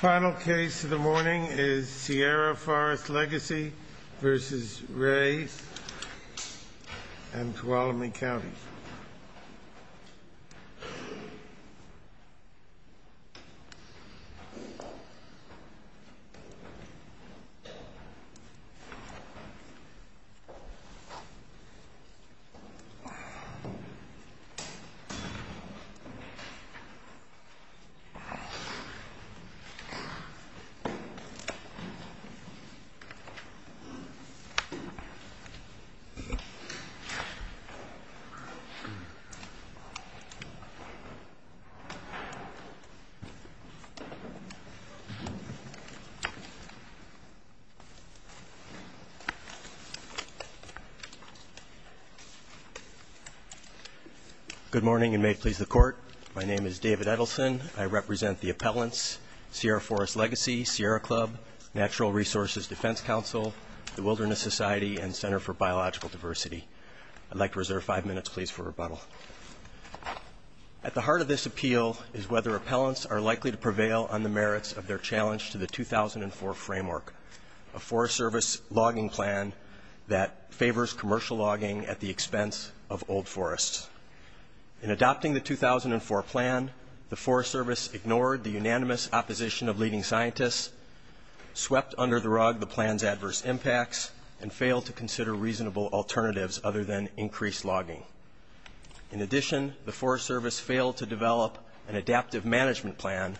Final case of the morning is Sierra Forest Legacy v. Ray. This is a case in Tuolumne County. Good morning and may it please the court. My name is David Edelson. I represent the appellants, Sierra Forest Legacy, Sierra Club, Natural Resources Defense Council, the Wilderness Society, and Center for Biological Diversity. I'd like to reserve five minutes, please, for rebuttal. At the heart of this appeal is whether appellants are likely to prevail on the merits of their challenge to the 2004 framework, a Forest Service logging plan that favors commercial logging at the expense of old forests. In adopting the 2004 plan, the Forest Service ignored the unanimous opposition of leading scientists, swept under the rug the plan's adverse impacts, and failed to consider reasonable alternatives other than increased logging. In addition, the Forest Service failed to develop an adaptive management plan,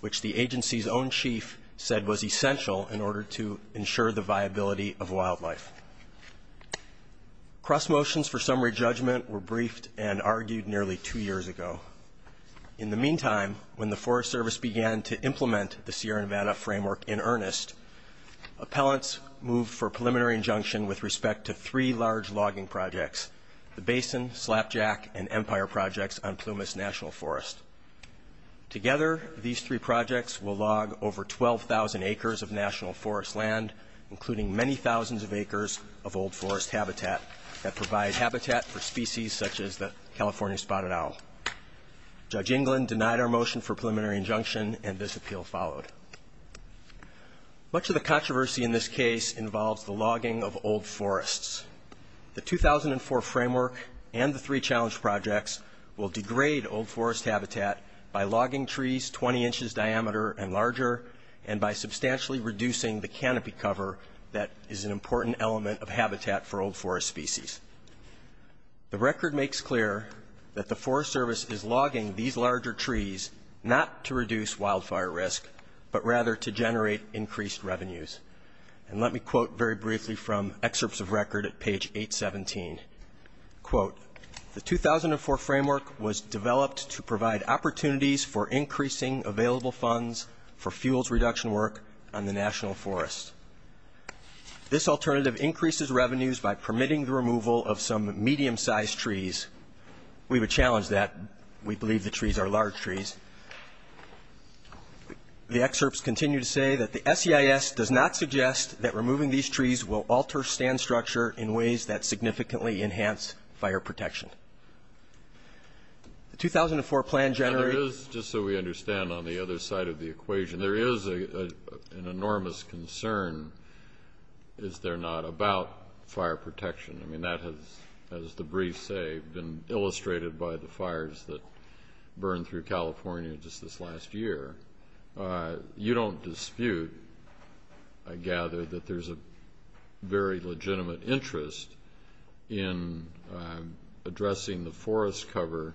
which the agency's own chief said was essential in order to ensure the viability of wildlife. Cross motions for summary judgment were briefed and argued nearly two years ago. In the meantime, when the Forest Service began to implement the Sierra Nevada framework in earnest, appellants moved for preliminary injunction with respect to three large logging projects, the Basin, Slapjack, and Empire projects on Plumas National Forest. Together, these three projects will log over 12,000 acres of national forest land, including many thousands of acres of old forest habitat that provide habitat for species such as the California spotted owl. Judge England denied our motion for preliminary injunction, and this appeal followed. Much of the controversy in this case involves the logging of old forests. The 2004 framework and the three challenge projects will degrade old forest habitat by logging trees 20 inches diameter and larger, and by substantially reducing the canopy cover that is an important element of habitat for old forest species. The record makes clear that the Forest Service is logging these larger trees not to reduce wildfire risk, but rather to generate increased revenues. And let me quote very briefly from excerpts of record at page 817. Quote, the 2004 framework was developed to provide opportunities for increasing available funds for fuels reduction work on the national forest. This alternative increases revenues by permitting the removal of some medium-sized trees. We would challenge that. We believe the trees are large trees. The excerpts continue to say that the SEIS does not suggest that removing these trees will alter stand structure in ways that significantly enhance fire protection. The 2004 plan generated ñ And it is, just so we understand on the other side of the equation, there is an enormous concern, is there not, about fire protection. I mean, that has, as the briefs say, been illustrated by the fires that burned through California just this last year. You don't dispute, I gather, that there is a very legitimate interest in addressing the forest cover,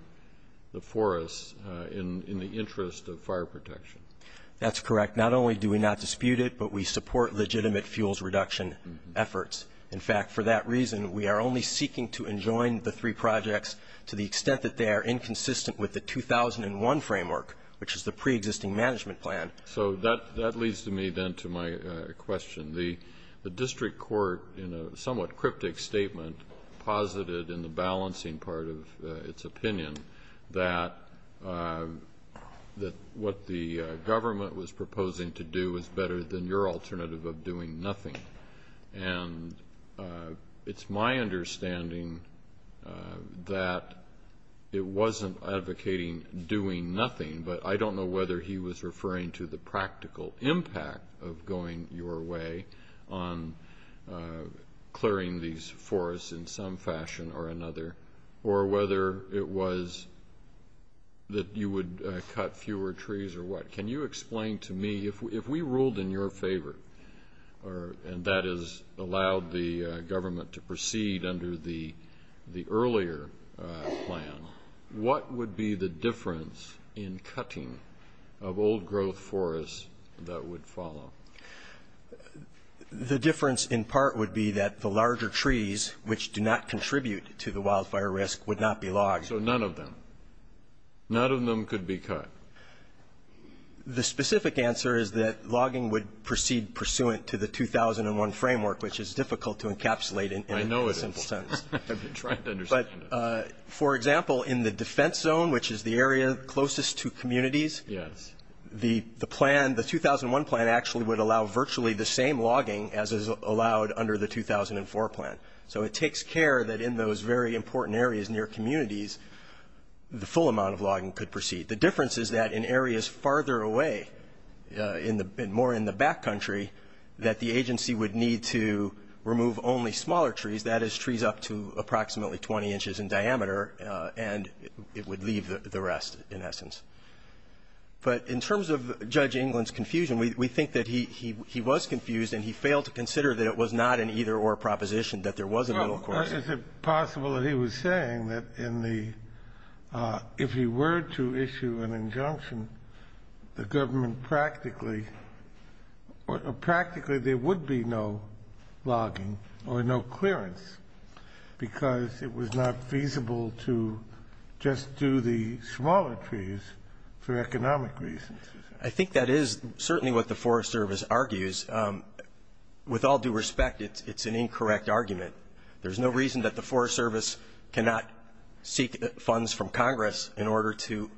the forests, in the interest of fire protection. That's correct. Not only do we not dispute it, but we support legitimate fuels reduction efforts. In fact, for that reason, we are only seeking to enjoin the three projects to the extent that they are inconsistent with the 2001 framework, which is the preexisting management plan. So that leads to me, then, to my question. The district court, in a somewhat cryptic statement, posited in the balancing part of its opinion that what the government was proposing to do was better than your alternative of doing nothing. And it's my understanding that it wasn't advocating doing nothing, but I don't know whether he was referring to the practical impact of going your way on clearing these forests in some fashion or another, or whether it was that you would cut fewer trees or what. Can you explain to me, if we ruled in your favor, and that is allowed the government to proceed under the earlier plan, what would be the difference in cutting of old-growth forests that would follow? The difference, in part, would be that the larger trees, which do not contribute to the wildfire risk, would not be logged. So none of them. None of them could be cut. The specific answer is that logging would proceed pursuant to the 2001 framework, which is difficult to encapsulate in a simple sense. I know it is. I've been trying to understand it. For example, in the defense zone, which is the area closest to communities, the plan, the 2001 plan, actually would allow virtually the same logging as is allowed under the 2004 plan. So it takes care that in those very important areas near communities, the full amount of logging could proceed. The difference is that in areas farther away, more in the back country, that the agency would need to remove only smaller trees, that is trees up to approximately 20 inches in diameter, and it would leave the rest, in essence. But in terms of Judge England's confusion, we think that he was confused, and he failed to consider that it was not an either-or proposition, that there was a middle course. Is it possible that he was saying that if he were to issue an injunction, the government practically would be no logging or no clearance because it was not feasible to just do the smaller trees for economic reasons? I think that is certainly what the Forest Service argues. With all due respect, it's an incorrect argument. There's no reason that the Forest Service cannot seek funds from Congress in order to,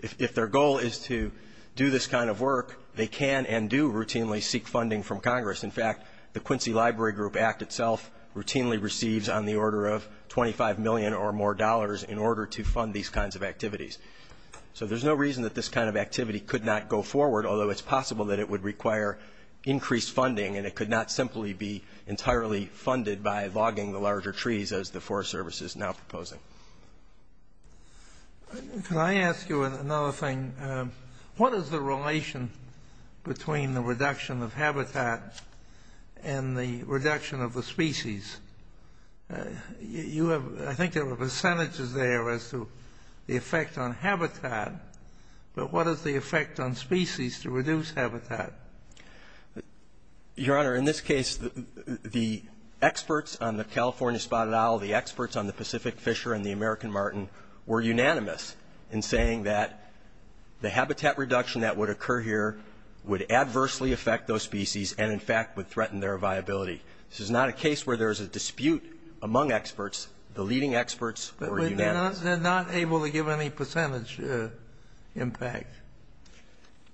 if their goal is to do this kind of work, they can and do routinely seek funding from Congress. In fact, the Quincy Library Group Act itself routinely receives on the order of $25 million or more in order to fund these kinds of activities. So there's no reason that this kind of activity could not go forward, although it's possible that it would require increased funding and it could not simply be entirely funded by logging the larger trees, as the Forest Service is now proposing. Can I ask you another thing? What is the relation between the reduction of habitat and the reduction of the species? I think there were percentages there as to the effect on habitat, but what is the effect on species to reduce habitat? Your Honor, in this case, the experts on the California Spotted Owl, the experts on the Pacific Fisher and the American Martin were unanimous in saying that the habitat reduction that would occur here would adversely affect those species and, in fact, would threaten their viability. This is not a case where there is a dispute among experts. The leading experts were unanimous. But they're not able to give any percentage impact.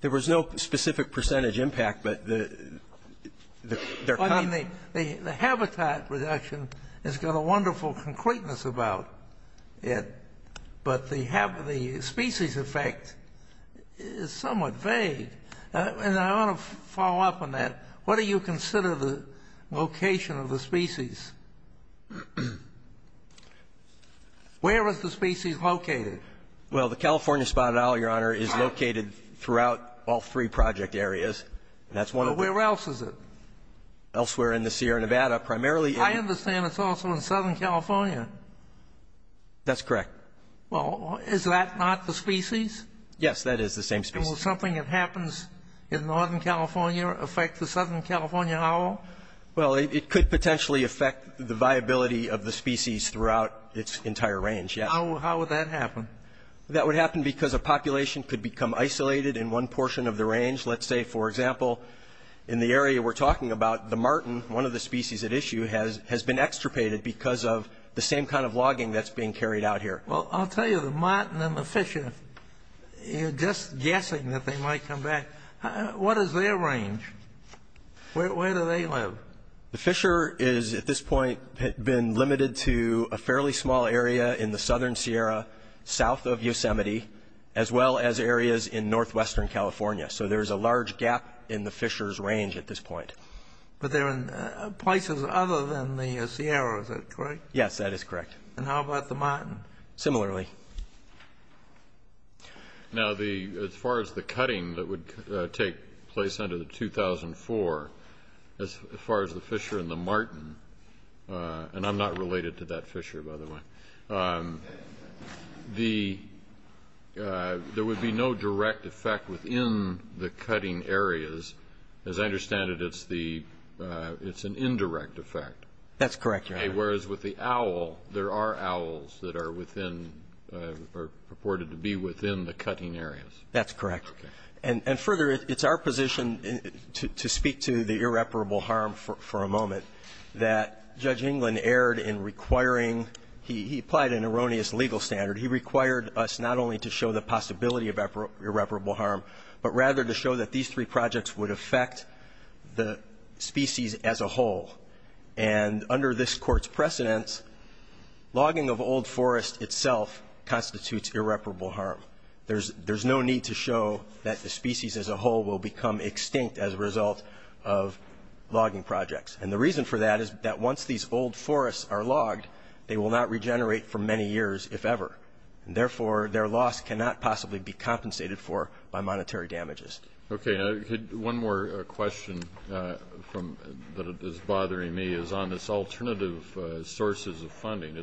There was no specific percentage impact, but the habitat reduction has got a wonderful concreteness about it, but the species effect is somewhat vague. And I want to follow up on that. What do you consider the location of the species? Where is the species located? Well, the California Spotted Owl, Your Honor, is located throughout all three project areas. That's one of them. Well, where else is it? Elsewhere in the Sierra Nevada, primarily in the... I understand it's also in Southern California. That's correct. Well, is that not the species? Yes, that is the same species. And will something that happens in Northern California affect the Southern California owl? Well, it could potentially affect the viability of the species throughout its entire range, yes. How would that happen? That would happen because a population could become isolated in one portion of the range. Let's say, for example, in the area we're talking about, the Martin, one of the species at issue, has been extirpated because of the same kind of logging that's being carried out here. Well, I'll tell you, the Martin and the Fisher, you're just guessing that they might come back. What is their range? Where do they live? The Fisher is, at this point, been limited to a fairly small area in the Southern Sierra, south of Yosemite, as well as areas in Northwestern California. So there's a large gap in the Fisher's range at this point. But they're in places other than the Sierra. Is that correct? Yes, that is correct. And how about the Martin? Similarly. Now, as far as the cutting that would take place under the 2004, as far as the Fisher and the Martin, and I'm not related to that Fisher, by the way, there would be no direct effect within the cutting areas. As I understand it, it's an indirect effect. That's correct, Your Honor. Whereas with the owl, there are owls that are within or purported to be within the cutting areas. That's correct. And further, it's our position, to speak to the irreparable harm for a moment, that Judge England erred in requiring he applied an erroneous legal standard. He required us not only to show the possibility of irreparable harm, but rather to show that these three projects would affect the species as a whole. And under this Court's precedence, logging of old forest itself constitutes irreparable harm. There's no need to show that the species as a whole will become extinct as a result of logging projects. And the reason for that is that once these old forests are logged, they will not regenerate for many years, if ever. And, therefore, their loss cannot possibly be compensated for by monetary damages. Okay. One more question that is bothering me is on this alternative sources of funding.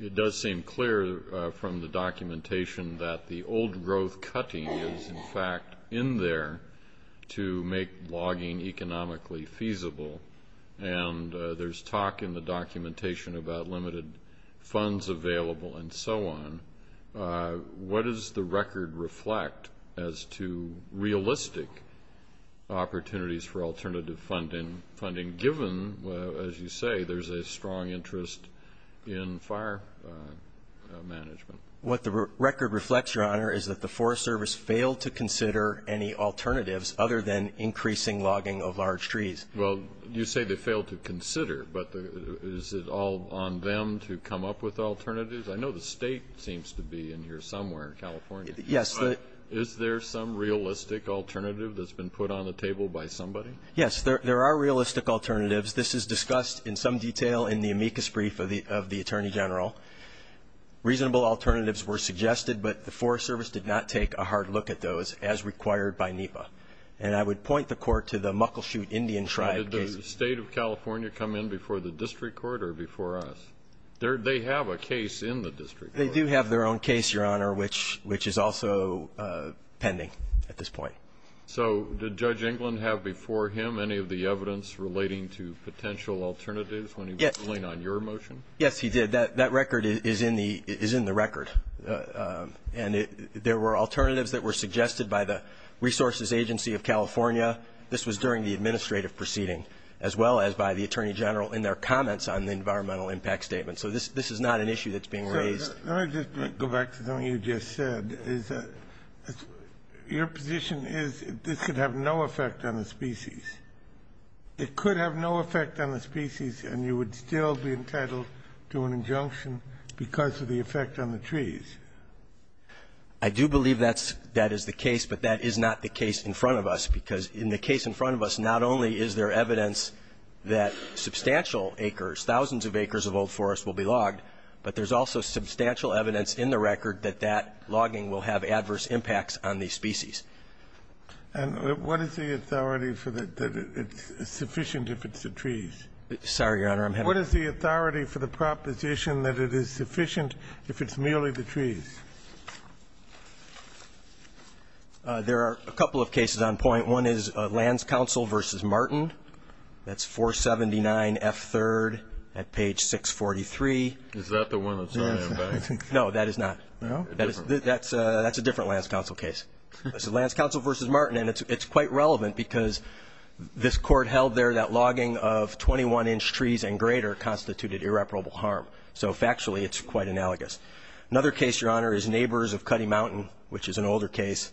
It does seem clear from the documentation that the old growth cutting is, in fact, in there to make logging economically feasible. And there's talk in the documentation about limited funds available and so on. What does the record reflect as to realistic opportunities for alternative funding, given, as you say, there's a strong interest in fire management? What the record reflects, Your Honor, is that the Forest Service failed to consider any alternatives other than increasing logging of large trees. Well, you say they failed to consider, but is it all on them to come up with alternatives? I know the state seems to be in here somewhere in California. Yes. But is there some realistic alternative that's been put on the table by somebody? Yes. There are realistic alternatives. This is discussed in some detail in the amicus brief of the Attorney General. Reasonable alternatives were suggested, but the Forest Service did not take a hard look at those, as required by NEPA. And I would point the Court to the Muckleshoot Indian Tribe cases. Did the state of California come in before the district court or before us? They have a case in the district court. They do have their own case, Your Honor, which is also pending at this point. So did Judge England have before him any of the evidence relating to potential alternatives when he was ruling on your motion? Yes, he did. That record is in the record. And there were alternatives that were suggested by the Resources Agency of California. This was during the administrative proceeding, as well as by the Attorney General in their comments on the environmental impact statement. So this is not an issue that's being raised. Let me just go back to something you just said, is that your position is this could have no effect on the species. It could have no effect on the species, and you would still be entitled to an injunction because of the effect on the trees. I do believe that's the case, but that is not the case in front of us, because in the case in front of us, not only is there evidence that substantial acres, thousands of acres of old forest will be logged, but there's also substantial evidence in the record that that logging will have adverse impacts on these species. And what is the authority for that it's sufficient if it's the trees? Sorry, Your Honor. What is the authority for the proposition that it is sufficient if it's merely the trees? There are a couple of cases on point. One is Lands Council v. Martin. That's 479F3rd at page 643. Is that the one that's on there? No, that is not. No? That's a different Lands Council case. It's Lands Council v. Martin, and it's quite relevant because this Court held there that logging of 21-inch trees and greater constituted irreparable harm. So factually, it's quite analogous. Another case, Your Honor, is Neighbors of Cutty Mountain, which is an older case.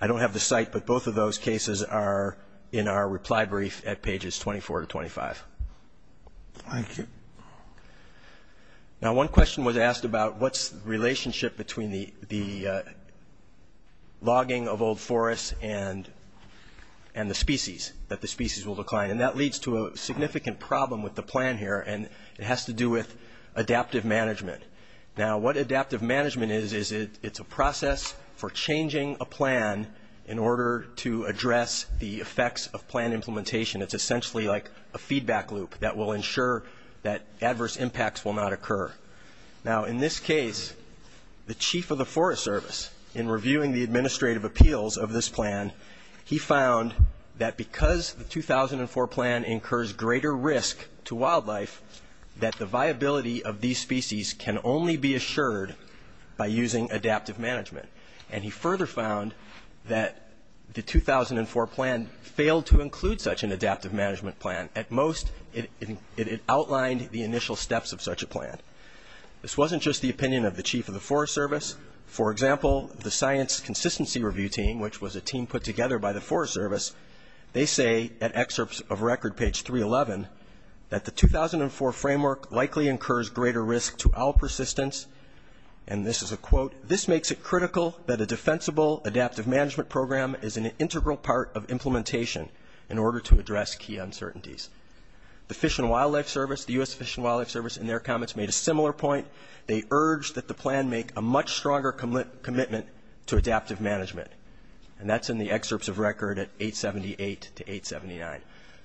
I don't have the site, but both of those cases are in our reply brief at pages 24 to 25. Thank you. Now, one question was asked about what's the relationship between the logging of old That leads to a significant problem with the plan here, and it has to do with adaptive management. Now, what adaptive management is, is it's a process for changing a plan in order to address the effects of plan implementation. It's essentially like a feedback loop that will ensure that adverse impacts will not occur. Now, in this case, the Chief of the Forest Service, in reviewing the administrative appeals of this plan, he found that because the 2004 plan incurs greater risk to wildlife, that the viability of these species can only be assured by using adaptive management. And he further found that the 2004 plan failed to include such an adaptive management plan. At most, it outlined the initial steps of such a plan. This wasn't just the opinion of the Chief of the Forest Service. For example, the Science Consistency Review Team, which was a team put together by the Forest Service, they say at excerpts of record, page 311, that the 2004 framework likely incurs greater risk to owl persistence. And this is a quote, This makes it critical that a defensible adaptive management program is an integral part of implementation in order to address key uncertainties. The Fish and Wildlife Service, the U.S. Fish and Wildlife Service, in their comments made a similar point. They urged that the plan make a much stronger commitment to adaptive management. And that's in the excerpts of record at 878 to 879.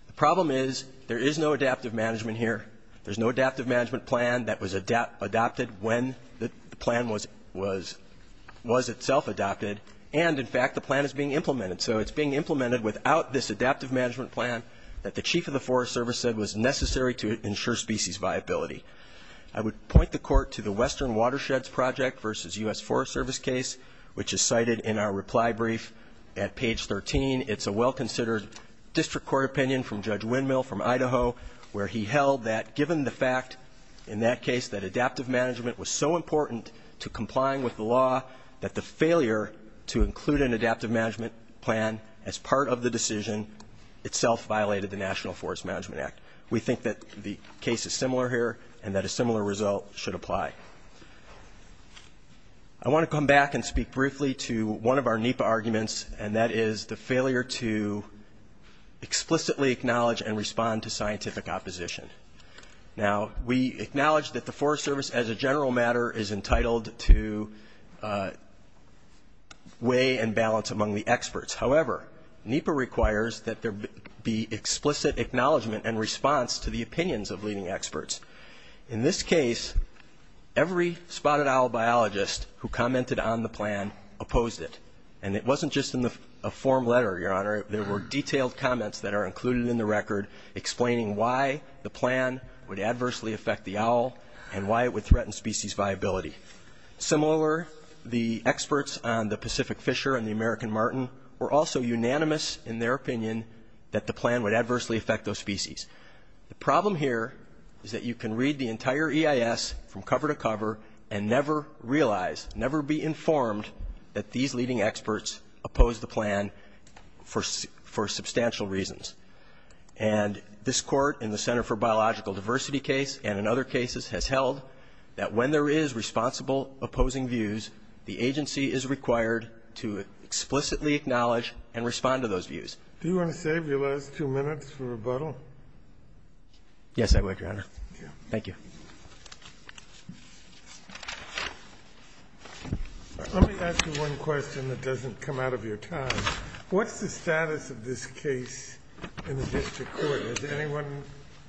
The problem is there is no adaptive management here. There's no adaptive management plan that was adopted when the plan was itself adopted. And, in fact, the plan is being implemented. So it's being implemented without this adaptive management plan that the Chief of the Forest Service said was necessary to ensure species viability. I would point the Court to the Western Watersheds Project versus U.S. Forest Service case, which is cited in our reply brief at page 13. It's a well-considered district court opinion from Judge Windmill from Idaho, where he held that given the fact in that case that adaptive management was so important to complying with the law that the failure to include an adaptive management plan as part of the decision itself violated the National Forest Management Act. We think that the case is similar here and that a similar result should apply. I want to come back and speak briefly to one of our NEPA arguments, and that is the failure to explicitly acknowledge and respond to scientific opposition. Now, we acknowledge that the Forest Service, as a general matter, However, NEPA requires that there be explicit acknowledgement and response to the opinions of leading experts. In this case, every spotted owl biologist who commented on the plan opposed it. And it wasn't just in a form letter, Your Honor. There were detailed comments that are included in the record explaining why the plan would adversely affect the owl and why it would threaten species viability. Similar, the experts on the Pacific Fisher and the American Martin were also unanimous in their opinion that the plan would adversely affect those species. The problem here is that you can read the entire EIS from cover to cover and never realize, never be informed that these leading experts opposed the plan for substantial reasons. And this Court in the Center for Biological Diversity case and in other cases has held that when there is responsible opposing views, the agency is required to explicitly acknowledge and respond to those views. Do you want to save your last two minutes for rebuttal? Yes, I would, Your Honor. Thank you. Let me ask you one question that doesn't come out of your time. What's the status of this case in the district court? Has anyone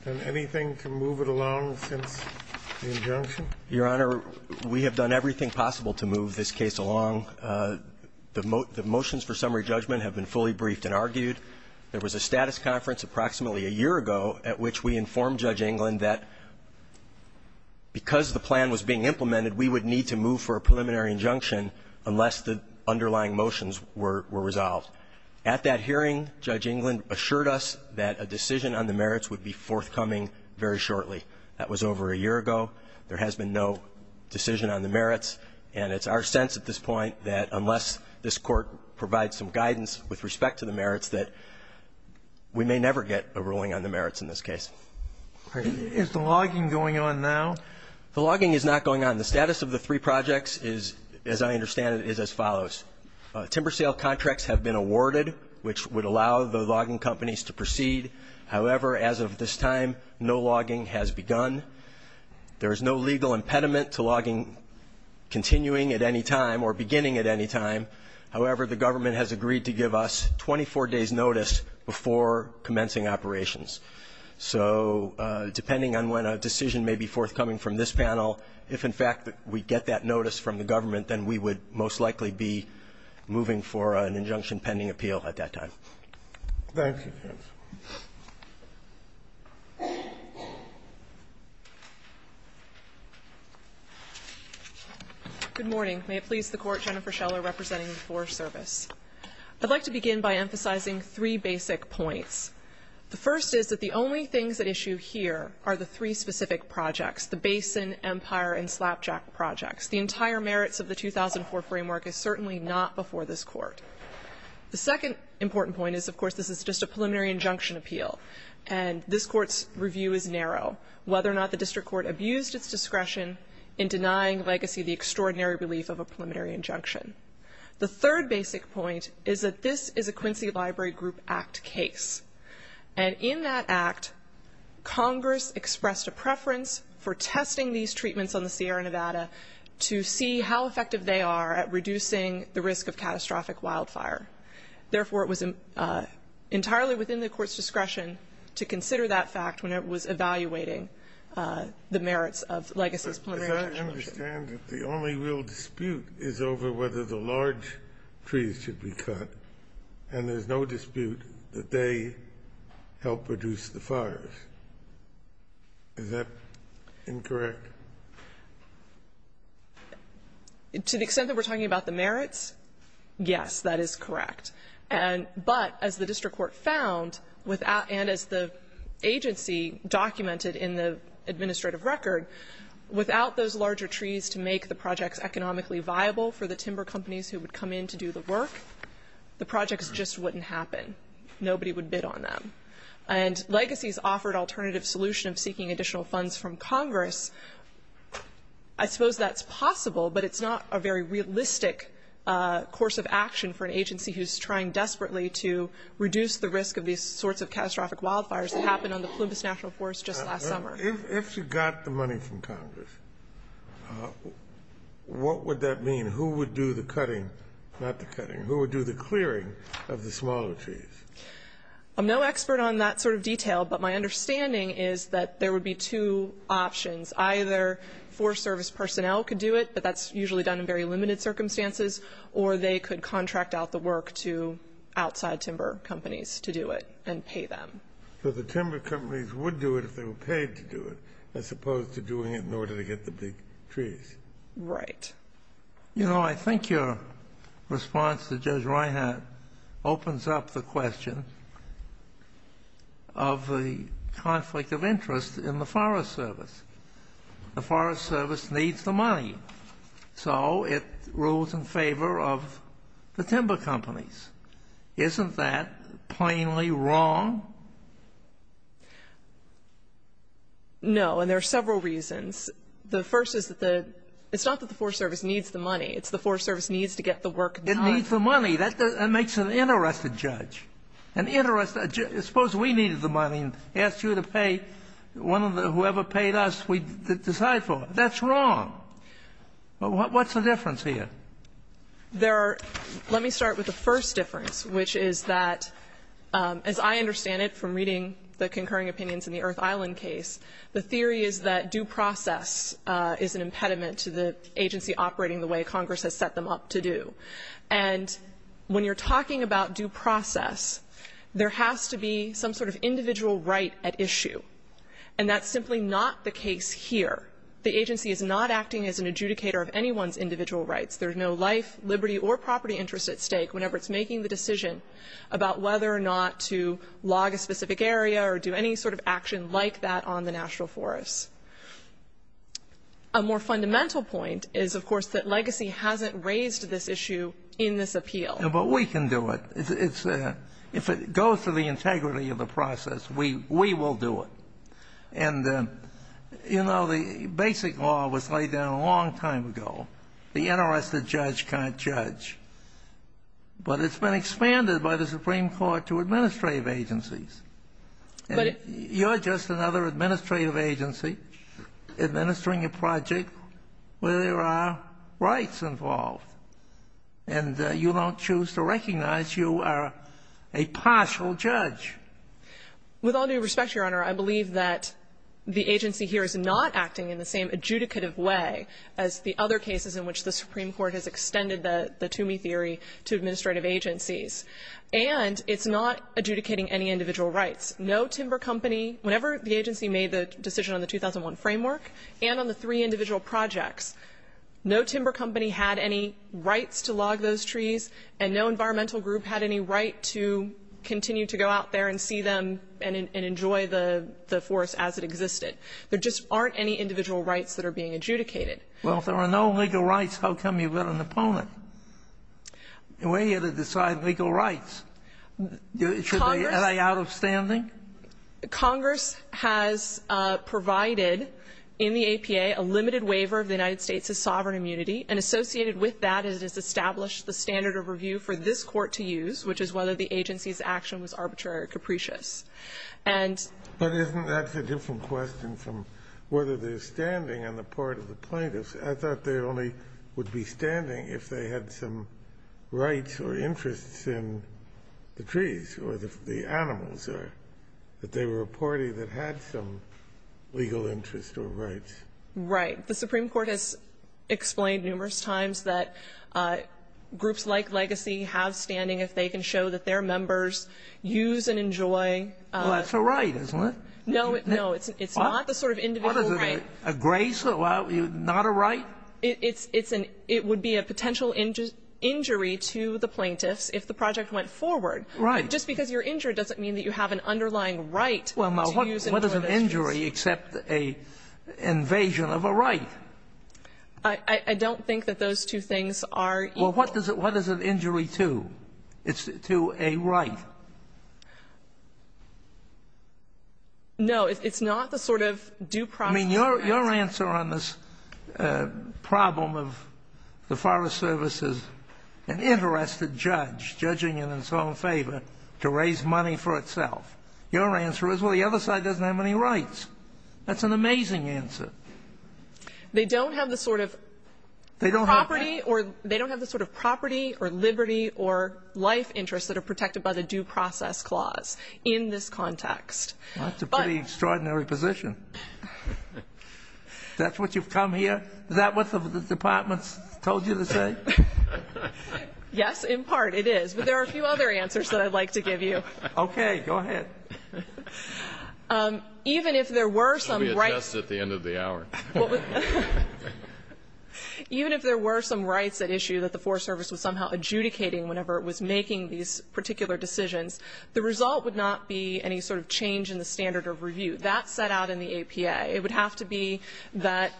done anything to move it along since the injunction? Your Honor, we have done everything possible to move this case along. The motions for summary judgment have been fully briefed and argued. There was a status conference approximately a year ago at which we informed Judge Englund that because the plan was being implemented, we would need to move for a preliminary injunction unless the underlying motions were resolved. At that hearing, Judge Englund assured us that a decision on the merits would be forthcoming very shortly. That was over a year ago. There has been no decision on the merits. And it's our sense at this point that unless this Court provides some guidance with respect to the merits, that we may never get a ruling on the merits in this case. Is the logging going on now? The logging is not going on. The status of the three projects is, as I understand it, is as follows. Timber sale contracts have been awarded, which would allow the logging companies to proceed. However, as of this time, no logging has begun. There is no legal impediment to logging continuing at any time or beginning at any time. However, the government has agreed to give us 24 days' notice before commencing operations. So depending on when a decision may be forthcoming from this panel, if, in fact, we get that notice from the government, then we would most likely be moving for an injunction pending appeal at that time. Thank you. Good morning. May it please the Court, Jennifer Scheller representing the Forest Service. I'd like to begin by emphasizing three basic points. The first is that the only things at issue here are the three specific projects, the Basin, Empire, and Slapjack projects. The entire merits of the 2004 framework is certainly not before this Court. The second important point is, of course, this is just a preliminary injunction appeal, and this Court's review is narrow, whether or not the district court abused its discretion in denying Legacy the extraordinary relief of a preliminary injunction. The third basic point is that this is a Quincy Library Group Act case. And in that act, Congress expressed a preference for testing these treatments on the Sierra Nevada to see how effective they are at reducing the risk of catastrophic wildfire. Therefore, it was entirely within the Court's discretion to consider that fact when it was evaluating the merits of Legacy's preliminary injunction. As I understand it, the only real dispute is over whether the large trees should be cut, and there's no dispute that they help reduce the fires. Is that incorrect? To the extent that we're talking about the merits, yes, that is correct. But as the district court found, and as the agency documented in the administrative record, without those larger trees to make the projects economically viable for the timber companies who would come in to do the work, the projects just wouldn't happen. Nobody would bid on them. And Legacy's offered alternative solution of seeking additional funds from Congress. I suppose that's possible, but it's not a very realistic course of action for an agency who's trying desperately to reduce the risk of these sorts of catastrophic wildfires that happened on the Plumas National Forest just last summer. If you got the money from Congress, what would that mean? Who would do the cutting? Not the cutting. Who would do the clearing of the smaller trees? I'm no expert on that sort of detail, but my understanding is that there would be two options. Either Forest Service personnel could do it, but that's usually done in very limited circumstances, or they could contract out the work to outside timber companies to do it and pay them. So the timber companies would do it if they were paid to do it as opposed to doing it in order to get the big trees. Right. You know, I think your response to Judge Reinhart opens up the question of the conflict of interest in the Forest Service. The Forest Service needs the money, so it rules in favor of the timber companies. Isn't that plainly wrong? No. And there are several reasons. The first is that the — it's not that the Forest Service needs the money. It's the Forest Service needs to get the work done. It needs the money. That makes an inarrested judge. An inarrested — suppose we needed the money and asked you to pay one of the — whoever paid us, we decide for it. That's wrong. What's the difference here? There are — let me start with the first difference, which is that, as I understand it from reading the concurring opinions in the Earth Island case, the theory is that due process is an impediment to the agency operating the way Congress has set them up to do. And when you're talking about due process, there has to be some sort of individual right at issue, and that's simply not the case here. The agency is not acting as an adjudicator of anyone's individual rights. There's no life, liberty, or property interest at stake whenever it's making the decision about whether or not to log a specific area or do any sort of action like that on the National Forests. A more fundamental point is, of course, that legacy hasn't raised this issue in this appeal. Yeah, but we can do it. It's — if it goes to the integrity of the process, we will do it. And, you know, the basic law was laid down a long time ago. The interested judge can't judge. But it's been expanded by the Supreme Court to administrative agencies. You're just another administrative agency administering a project where there are rights involved, and you don't choose to recognize you are a partial judge. With all due respect, Your Honor, I believe that the agency here is not acting in the same adjudicative way as the other cases in which the Supreme Court has extended the Toomey theory to administrative agencies. And it's not adjudicating any individual rights. No timber company, whenever the agency made the decision on the 2001 framework and on the three individual projects, no timber company had any rights to log those and see them and enjoy the forest as it existed. There just aren't any individual rights that are being adjudicated. Well, if there are no legal rights, how come you've got an opponent? We're here to decide legal rights. Should they lay out of standing? Congress has provided in the APA a limited waiver of the United States' sovereign immunity, and associated with that is it has established the standard of review for this Court to use, which is whether the agency's action was arbitrary or capricious. And ---- But isn't that a different question from whether they're standing on the part of the plaintiffs? I thought they only would be standing if they had some rights or interests in the trees or the animals or that they were a party that had some legal interest or rights. Right. The Supreme Court has explained numerous times that groups like Legacy have standing if they can show that their members use and enjoy ---- Well, that's a right, isn't it? No, no. It's not the sort of individual right. A grace? Not a right? It's an ---- it would be a potential injury to the plaintiffs if the project went forward. Right. It's not an injury except an invasion of a right. I don't think that those two things are equal. Well, what does it injury to? It's to a right. No. It's not the sort of due process right. I mean, your answer on this problem of the Forest Service is an interested judge judging it in its own favor to raise money for itself. Your answer is, well, the other side doesn't have any rights. That's an amazing answer. They don't have the sort of property or liberty or life interests that are protected by the due process clause in this context. That's a pretty extraordinary position. That's what you've come here? Is that what the departments told you to say? Yes, in part, it is. But there are a few other answers that I'd like to give you. Okay. Go ahead. Even if there were some rights. We adjust at the end of the hour. Even if there were some rights at issue that the Forest Service was somehow adjudicating whenever it was making these particular decisions, the result would not be any sort of change in the standard of review. That's set out in the APA. It would have to be that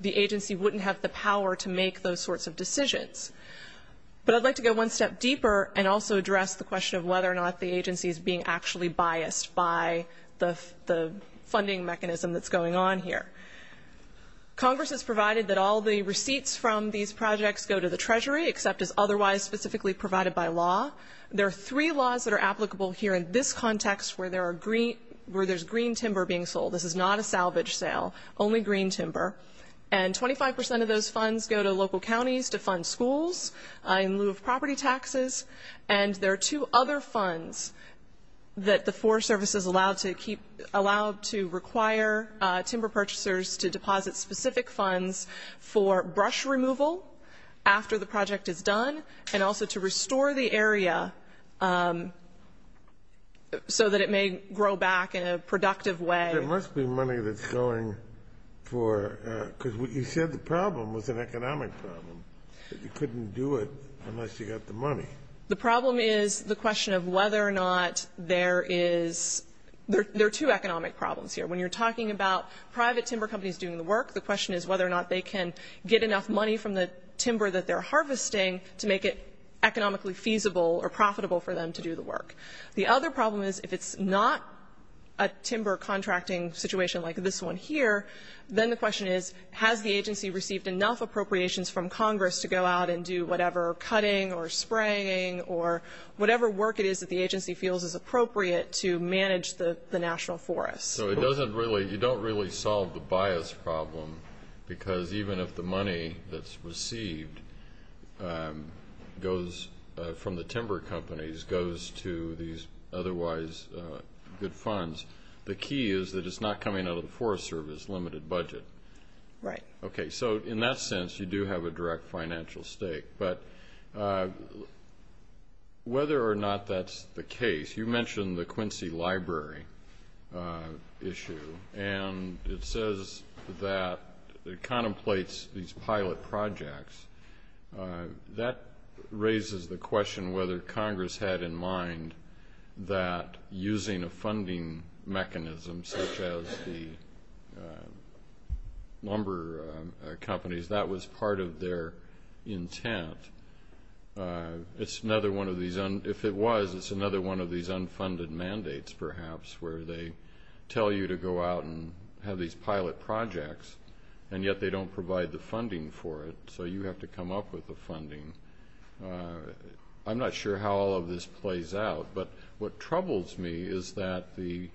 the agency wouldn't have the power to make those sorts of decisions. But I'd like to go one step deeper and also address the question of whether or not the agency is being actually biased by the funding mechanism that's going on here. Congress has provided that all the receipts from these projects go to the Treasury, except as otherwise specifically provided by law. There are three laws that are applicable here in this context where there's green timber being sold. This is not a salvage sale, only green timber. And 25 percent of those funds go to local counties to fund schools in lieu of property taxes. And there are two other funds that the Forest Service is allowed to require timber purchasers to deposit specific funds for brush removal after the project is done and also to restore the area so that it may grow back in a productive way. There must be money that's going for, because you said the problem was an economic problem, that you couldn't do it unless you got the money. The problem is the question of whether or not there is, there are two economic problems here. When you're talking about private timber companies doing the work, the question is whether or not they can get enough money from the timber that they're harvesting to make it economically feasible or profitable for them to do the work. The other problem is if it's not a timber contracting situation like this one here, then the question is has the agency received enough appropriations from Congress to go out and do whatever cutting or spraying or whatever work it is that the agency feels is appropriate to manage the national forests. So it doesn't really, you don't really solve the bias problem, because even if the money that's received from the timber companies goes to these otherwise good funds, the key is that it's not coming out of the Forest Service limited budget. Right. Okay, so in that sense, you do have a direct financial stake. But whether or not that's the case, you mentioned the Quincy Library issue, and it says that it contemplates these pilot projects. That raises the question whether Congress had in mind that using a funding mechanism such as the lumber companies, that was part of their intent. It's another one of these, if it was, it's another one of these unfunded mandates perhaps where they tell you to go out and have these pilot projects, and yet they don't provide the funding for it, so you have to come up with the funding. I'm not sure how all of this plays out, but what troubles me is that the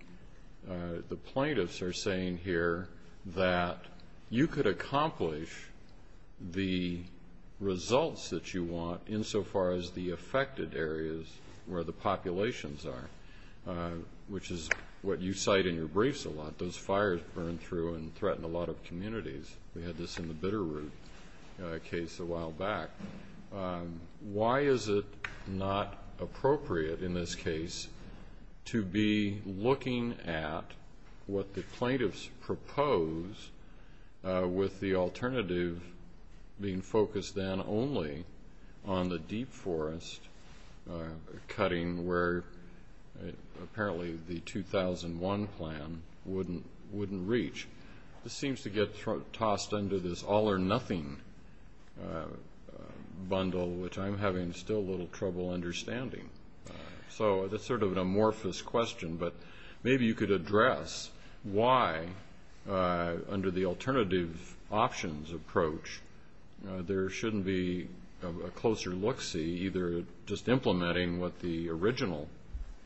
plaintiffs are saying here that you could accomplish the results that you want insofar as the affected areas where the populations are, which is what you cite in your briefs a lot, those fires burn through and threaten a lot of communities. We had this in the Bitterroot case a while back. Why is it not appropriate in this case to be looking at what the plaintiffs propose with the alternative being focused then only on the deep forest cutting where apparently the 2001 plan wouldn't reach? This seems to get tossed under this all or nothing bundle, which I'm having still a little trouble understanding. That's sort of an amorphous question, but maybe you could address why under the alternative options approach there shouldn't be a closer look-see, either just implementing what the original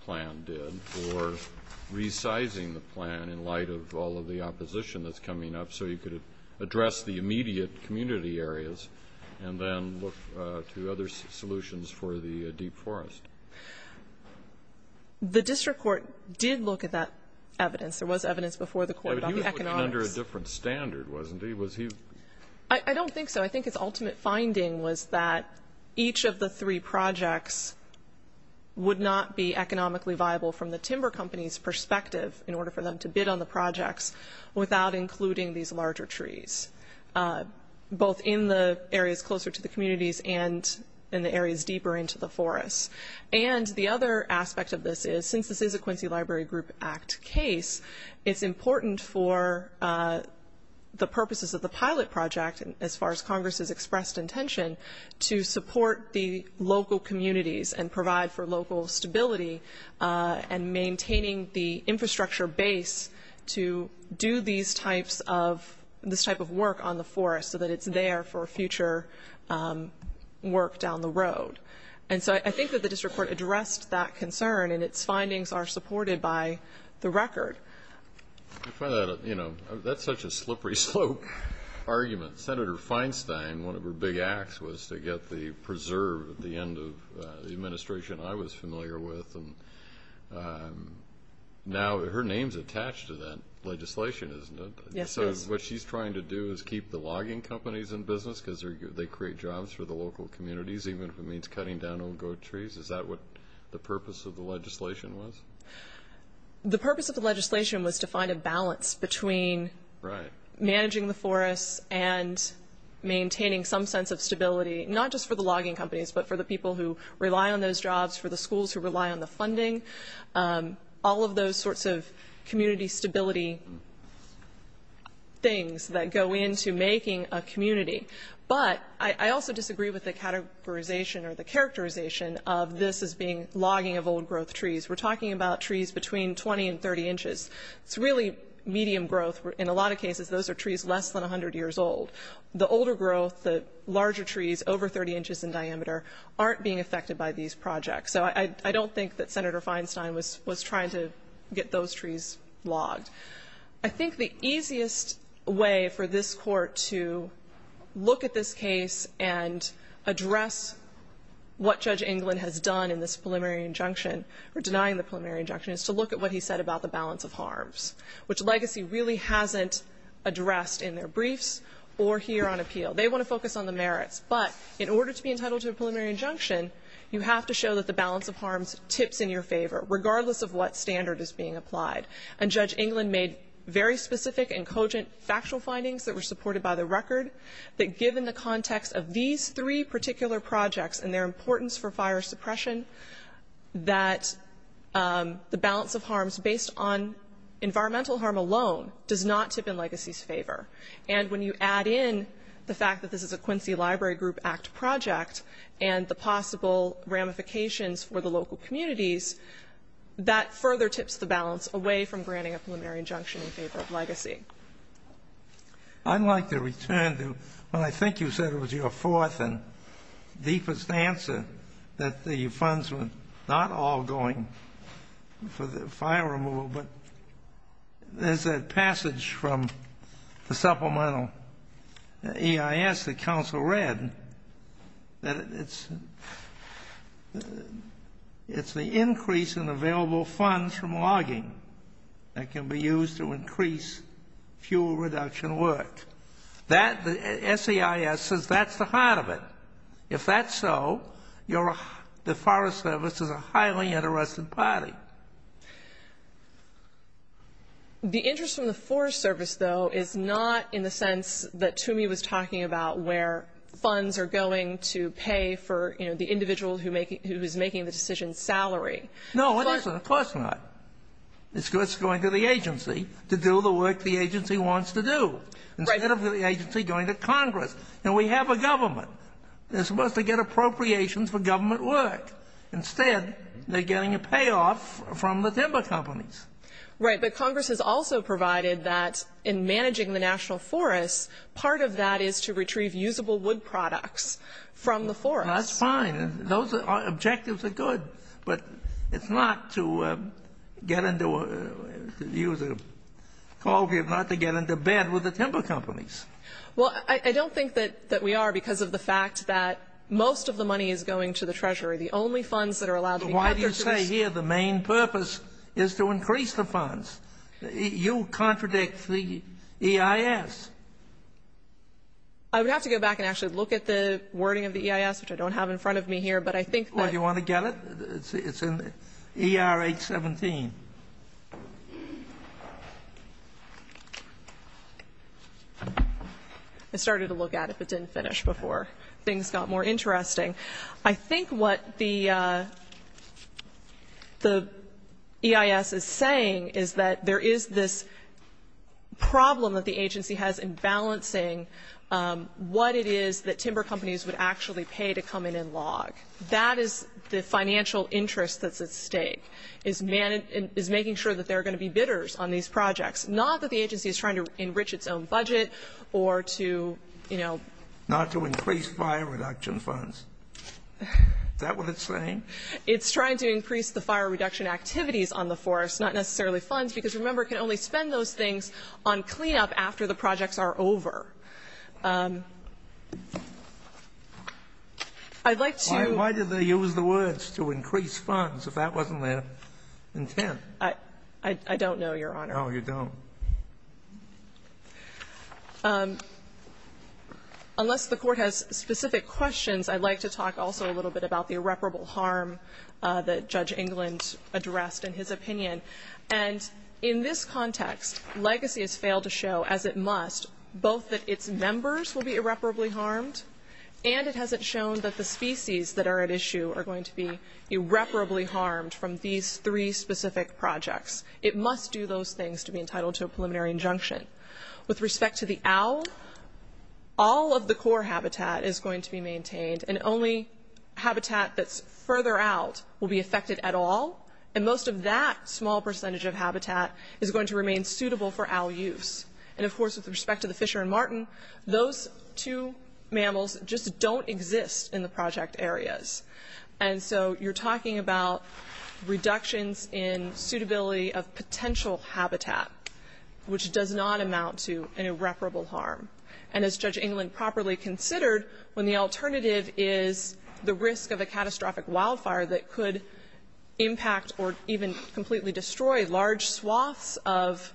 plan did or resizing the plan in light of all of the opposition that's coming up so you could address the immediate community areas and then look to other solutions for the deep forest. The district court did look at that evidence. There was evidence before the court about the economics. But he was looking under a different standard, wasn't he? I don't think so. I think his ultimate finding was that each of the three projects would not be economically viable from the timber company's perspective in order for them to bid on the projects without including these larger trees, both in the areas closer to the communities and in the areas deeper into the forest. And the other aspect of this is, since this is a Quincy Library Group Act case, it's important for the purposes of the pilot project, as far as Congress's expressed intention, to support the local communities and provide for local stability and maintaining the infrastructure base to do this type of work on the forest so that it's there for future work down the road. And so I think that the district court addressed that concern, and its findings are supported by the record. That's such a slippery slope argument. Senator Feinstein, one of her big acts was to get the preserve at the end of the administration I was familiar with. Now, her name's attached to that legislation, isn't it? Yes, it is. So what she's trying to do is keep the logging companies in business because they create jobs for the local communities, even if it means cutting down old goat trees. Is that what the purpose of the legislation was? The purpose of the legislation was to find a balance between managing the forest and maintaining some sense of stability, not just for the logging companies, but for the people who rely on those jobs, for the schools who rely on the funding, all of those sorts of community stability things that go into making a community. But I also disagree with the categorization or the characterization of this as being logging of old growth trees. We're talking about trees between 20 and 30 inches. It's really medium growth. In a lot of cases, those are trees less than 100 years old. The older growth, the larger trees, over 30 inches in diameter, aren't being affected by these projects. So I don't think that Senator Feinstein was trying to get those trees logged. I think the easiest way for this Court to look at this case and address what Judge England has done in this preliminary injunction or denying the preliminary injunction is to look at what he said about the balance of harms, which Legacy really hasn't addressed in their briefs or here on appeal. They want to focus on the merits, but in order to be entitled to a preliminary injunction, you have to show that the balance of harms tips in your favor, regardless of what standard is being applied. And Judge England made very specific and cogent factual findings that were supported by the record that given the context of these three particular projects and their importance for fire suppression, that the balance of harms based on environmental harm alone does not tip in Legacy's favor. And when you add in the fact that this is a Quincy Library Group Act project and the possible ramifications for the local communities, that further tips the balance away from granting a preliminary injunction in favor of Legacy. I'd like to return to what I think you said was your fourth and deepest answer, that the funds were not all going for the fire removal, but there's a passage from the supplemental EIS that counsel read that it's the increase in available funds from logging that can be used to increase fuel reduction work. The SEIS says that's the heart of it. If that's so, the Forest Service is a highly interested party. The interest from the Forest Service, though, is not in the sense that Toomey was talking about where funds are going to pay for, you know, the individual who is making the decision's salary. No, it isn't. Of course not. It's going to the agency to do the work the agency wants to do. Right. Instead of the agency going to Congress. Now, we have a government. They're supposed to get appropriations for government work. Instead, they're getting a payoff from the timber companies. Right. But Congress has also provided that in managing the national forests, part of that is to retrieve usable wood products from the forests. That's fine. Those objectives are good. But it's not to get into a use of coal, not to get into bed with the timber companies. Well, I don't think that we are because of the fact that most of the money is going to the Treasury. The only funds that are allowed to be purchased is the timber companies. You contradict the EIS. I would have to go back and actually look at the wording of the EIS, which I don't have in front of me here, but I think that Well, do you want to get it? It's in ER 817. I started to look at it, but it didn't finish before things got more interesting. I think what the EIS is saying is that there is this problem that the agency has in balancing what it is that timber companies would actually pay to come in and log. That is the financial interest that's at stake, is making sure that there are going to be bidders on these projects, not that the agency is trying to enrich its own budget or to, you know Is that what it's saying? It's trying to increase the fire reduction activities on the forest, not necessarily funds, because remember, it can only spend those things on cleanup after the projects are over. I'd like to Why did they use the words to increase funds if that wasn't their intent? I don't know, Your Honor. No, you don't. Unless the Court has specific questions, I'd like to talk also a little bit about the irreparable harm that Judge England addressed in his opinion. And in this context, Legacy has failed to show, as it must, both that its members will be irreparably harmed, and it hasn't shown that the species that are at issue are going to be irreparably harmed from these three specific projects. It must do those things to be entitled to a preliminary injunction. With respect to the owl, all of the core habitat is going to be maintained, and only habitat that's further out will be affected at all, and most of that small percentage of habitat is going to remain suitable for owl use. And of course, with respect to the Fisher and Martin, those two mammals just don't exist in the project areas. And so you're talking about reductions in suitability of potential habitat, which does not amount to an irreparable harm. And as Judge England properly considered, when the alternative is the risk of a catastrophic wildfire that could impact or even completely destroy large swaths of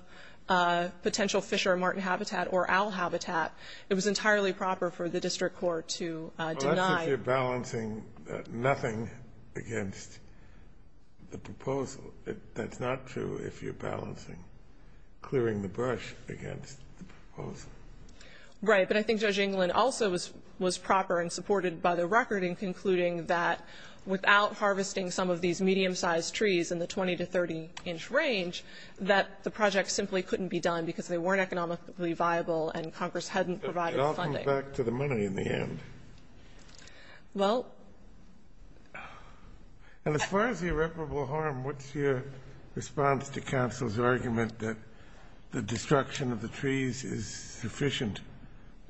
potential Fisher and Martin habitat or owl habitat, it was entirely proper for the district court to deny. This is if you're balancing nothing against the proposal. That's not true if you're balancing clearing the brush against the proposal. Right. But I think Judge England also was proper and supported by the record in concluding that without harvesting some of these medium-sized trees in the 20- to 30-inch range, that the project simply couldn't be done because they weren't economically viable and Congress hadn't provided funding. Okay. And as far as irreparable harm, what's your response to counsel's argument that the destruction of the trees is sufficient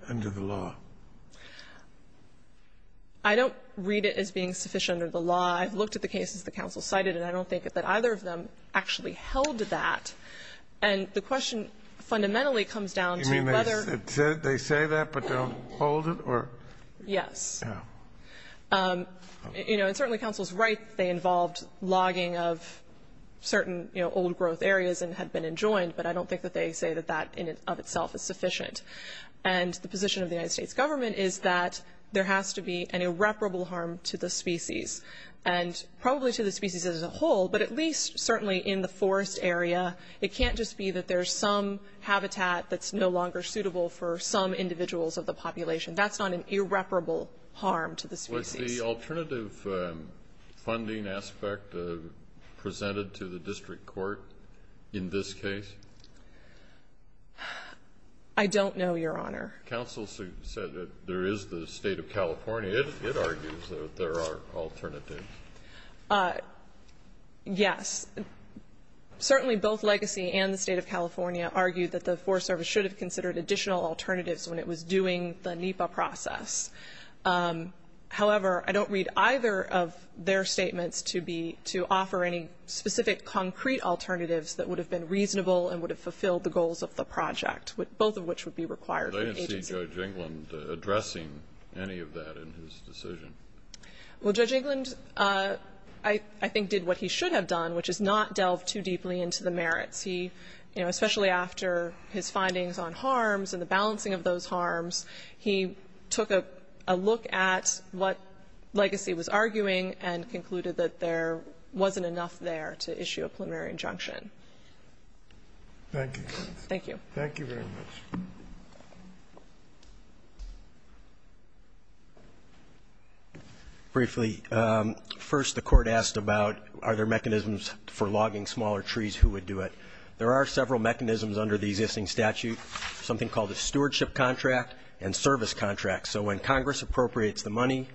under the law? I don't read it as being sufficient under the law. I've looked at the cases that counsel cited, and I don't think that either of them actually held that. And the question fundamentally comes down to whether... You mean they say that, but don't hold it, or... Yes. You know, and certainly counsel's right that they involved logging of certain, you know, old-growth areas and had been enjoined, but I don't think that they say that that in and of itself is sufficient. And the position of the United States government is that there has to be an irreparable harm to the species, and probably to the species as a whole, but at least certainly in the forest area. It can't just be that there's some habitat that's no longer suitable for some individuals of the population. That's not an irreparable harm to the species. Was the alternative funding aspect presented to the district court in this case? I don't know, Your Honor. Counsel said that there is the State of California. It argues that there are alternatives. Yes. Certainly both Legacy and the State of California argue that the Forest Service should have considered additional alternatives when it was doing the NEPA process. However, I don't read either of their statements to be to offer any specific concrete alternatives that would have been reasonable and would have fulfilled the goals of the project, both of which would be required for the agency. I didn't see Judge England addressing any of that in his decision. Well, Judge England I think did what he should have done, which is not delve too deeply into the merits. He, you know, especially after his findings on harms and the balancing of those harms, he took a look at what Legacy was arguing and concluded that there wasn't enough there to issue a preliminary injunction. Thank you. Thank you. Thank you very much. Briefly, first the Court asked about are there mechanisms for logging smaller trees, who would do it? There are several mechanisms under the existing statute, something called a stewardship contract and service contract. So when Congress appropriates the money,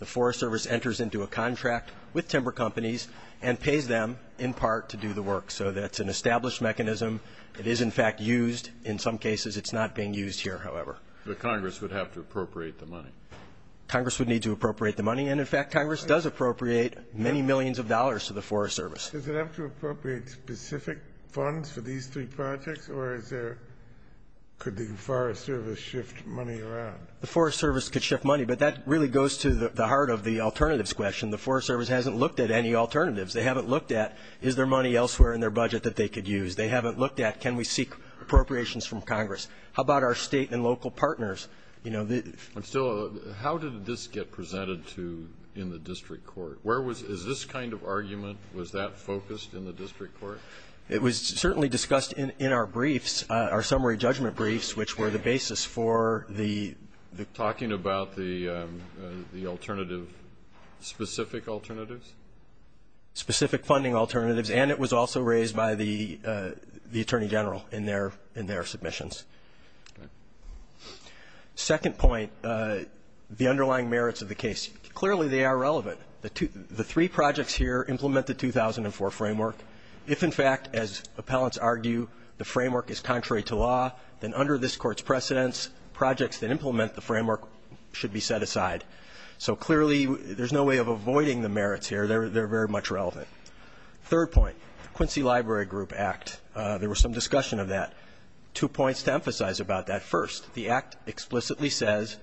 the Forest Service enters into a contract with timber companies and pays them in part to do the work. So that's an established mechanism. It is, in fact, used. In some cases, it's not being used here, however. But Congress would have to appropriate the money. Congress would need to appropriate the money, and in fact, Congress does appropriate many millions of dollars to the Forest Service. Does it have to appropriate specific funds for these three projects, or is there could the Forest Service shift money around? The Forest Service could shift money, but that really goes to the heart of the alternatives question. The Forest Service hasn't looked at any alternatives. They haven't looked at, is there money elsewhere in their budget that they could use? They haven't looked at, can we seek appropriations from Congress? How about our State and local partners? You know, the ---- But still, how did this get presented to you in the district court? Where was this kind of argument? Was that focused in the district court? It was certainly discussed in our briefs, our summary judgment briefs, which were the basis for the ---- Talking about the alternative, specific alternatives? Specific funding alternatives, and it was also raised by the Attorney General in their submissions. Second point, the underlying merits of the case. Clearly, they are relevant. The three projects here implement the 2004 framework. If, in fact, as appellants argue, the framework is contrary to law, then under this Court's precedence, projects that implement the framework should be set aside. So clearly, there's no way of avoiding the merits here. They're very much relevant. Third point, Quincy Library Group Act. There was some discussion of that. Two points to emphasize about that. First, the Act explicitly says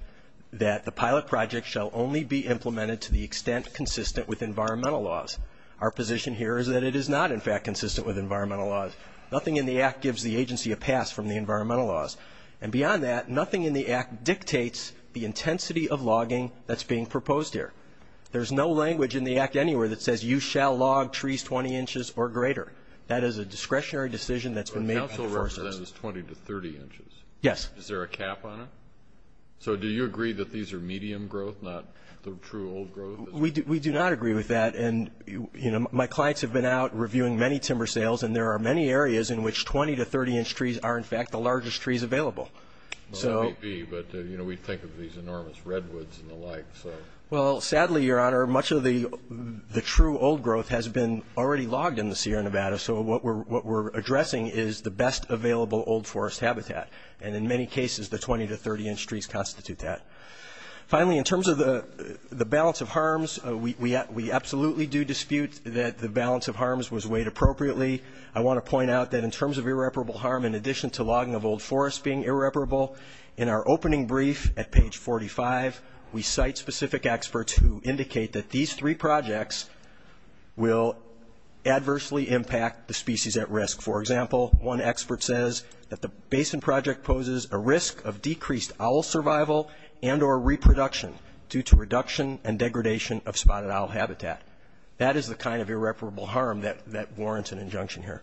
that the pilot project shall only be implemented to the extent consistent with environmental laws. Our position here is that it is not, in fact, consistent with environmental laws. Nothing in the Act gives the agency a pass from the environmental laws. And beyond that, nothing in the Act dictates the intensity of logging that's being proposed here. There's no language in the Act anywhere that says you shall log trees 20 inches or greater. That is a discretionary decision that's been made by the Forest Service. But the Council represents 20 to 30 inches. Yes. Is there a cap on it? So do you agree that these are medium growth, not the true old growth? We do not agree with that, and, you know, my clients have been out reviewing many timber sales, and there are many areas in which 20 to 30 inch trees are, in fact, the largest trees available. Well, that may be, but, you know, we think of these enormous redwoods and the like, so. Well, sadly, Your Honor, much of the true old growth has been already logged in the Sierra Nevada, so what we're addressing is the best available old forest habitat. And in many cases, the 20 to 30 inch trees constitute that. Finally, in terms of the balance of harms, we absolutely do dispute that the balance of harms was weighed appropriately. I want to point out that in terms of irreparable harm, in addition to logging of old forest being irreparable, in our opening brief at page 45, we cite specific experts who indicate that these three projects will adversely impact the species at risk. For example, one expert says that the basin project poses a risk of decreased owl survival and or reproduction due to reduction and degradation of spotted owl habitat. That is the kind of irreparable harm that warrants an injunction here.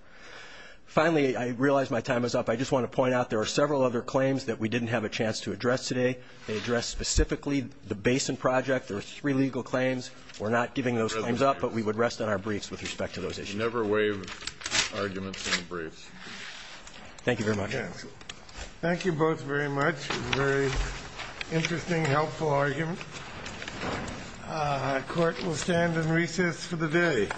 Finally, I realize my time is up. I just want to point out there are several other claims that we didn't have a chance to address today. They address specifically the basin project. There are three legal claims. We're not giving those claims up, but we would rest on our briefs with respect to those issues. You never waive arguments in briefs. Thank you very much. Thank you both very much. It was a very interesting, helpful argument. Court will stand and recess for the day. Thank you.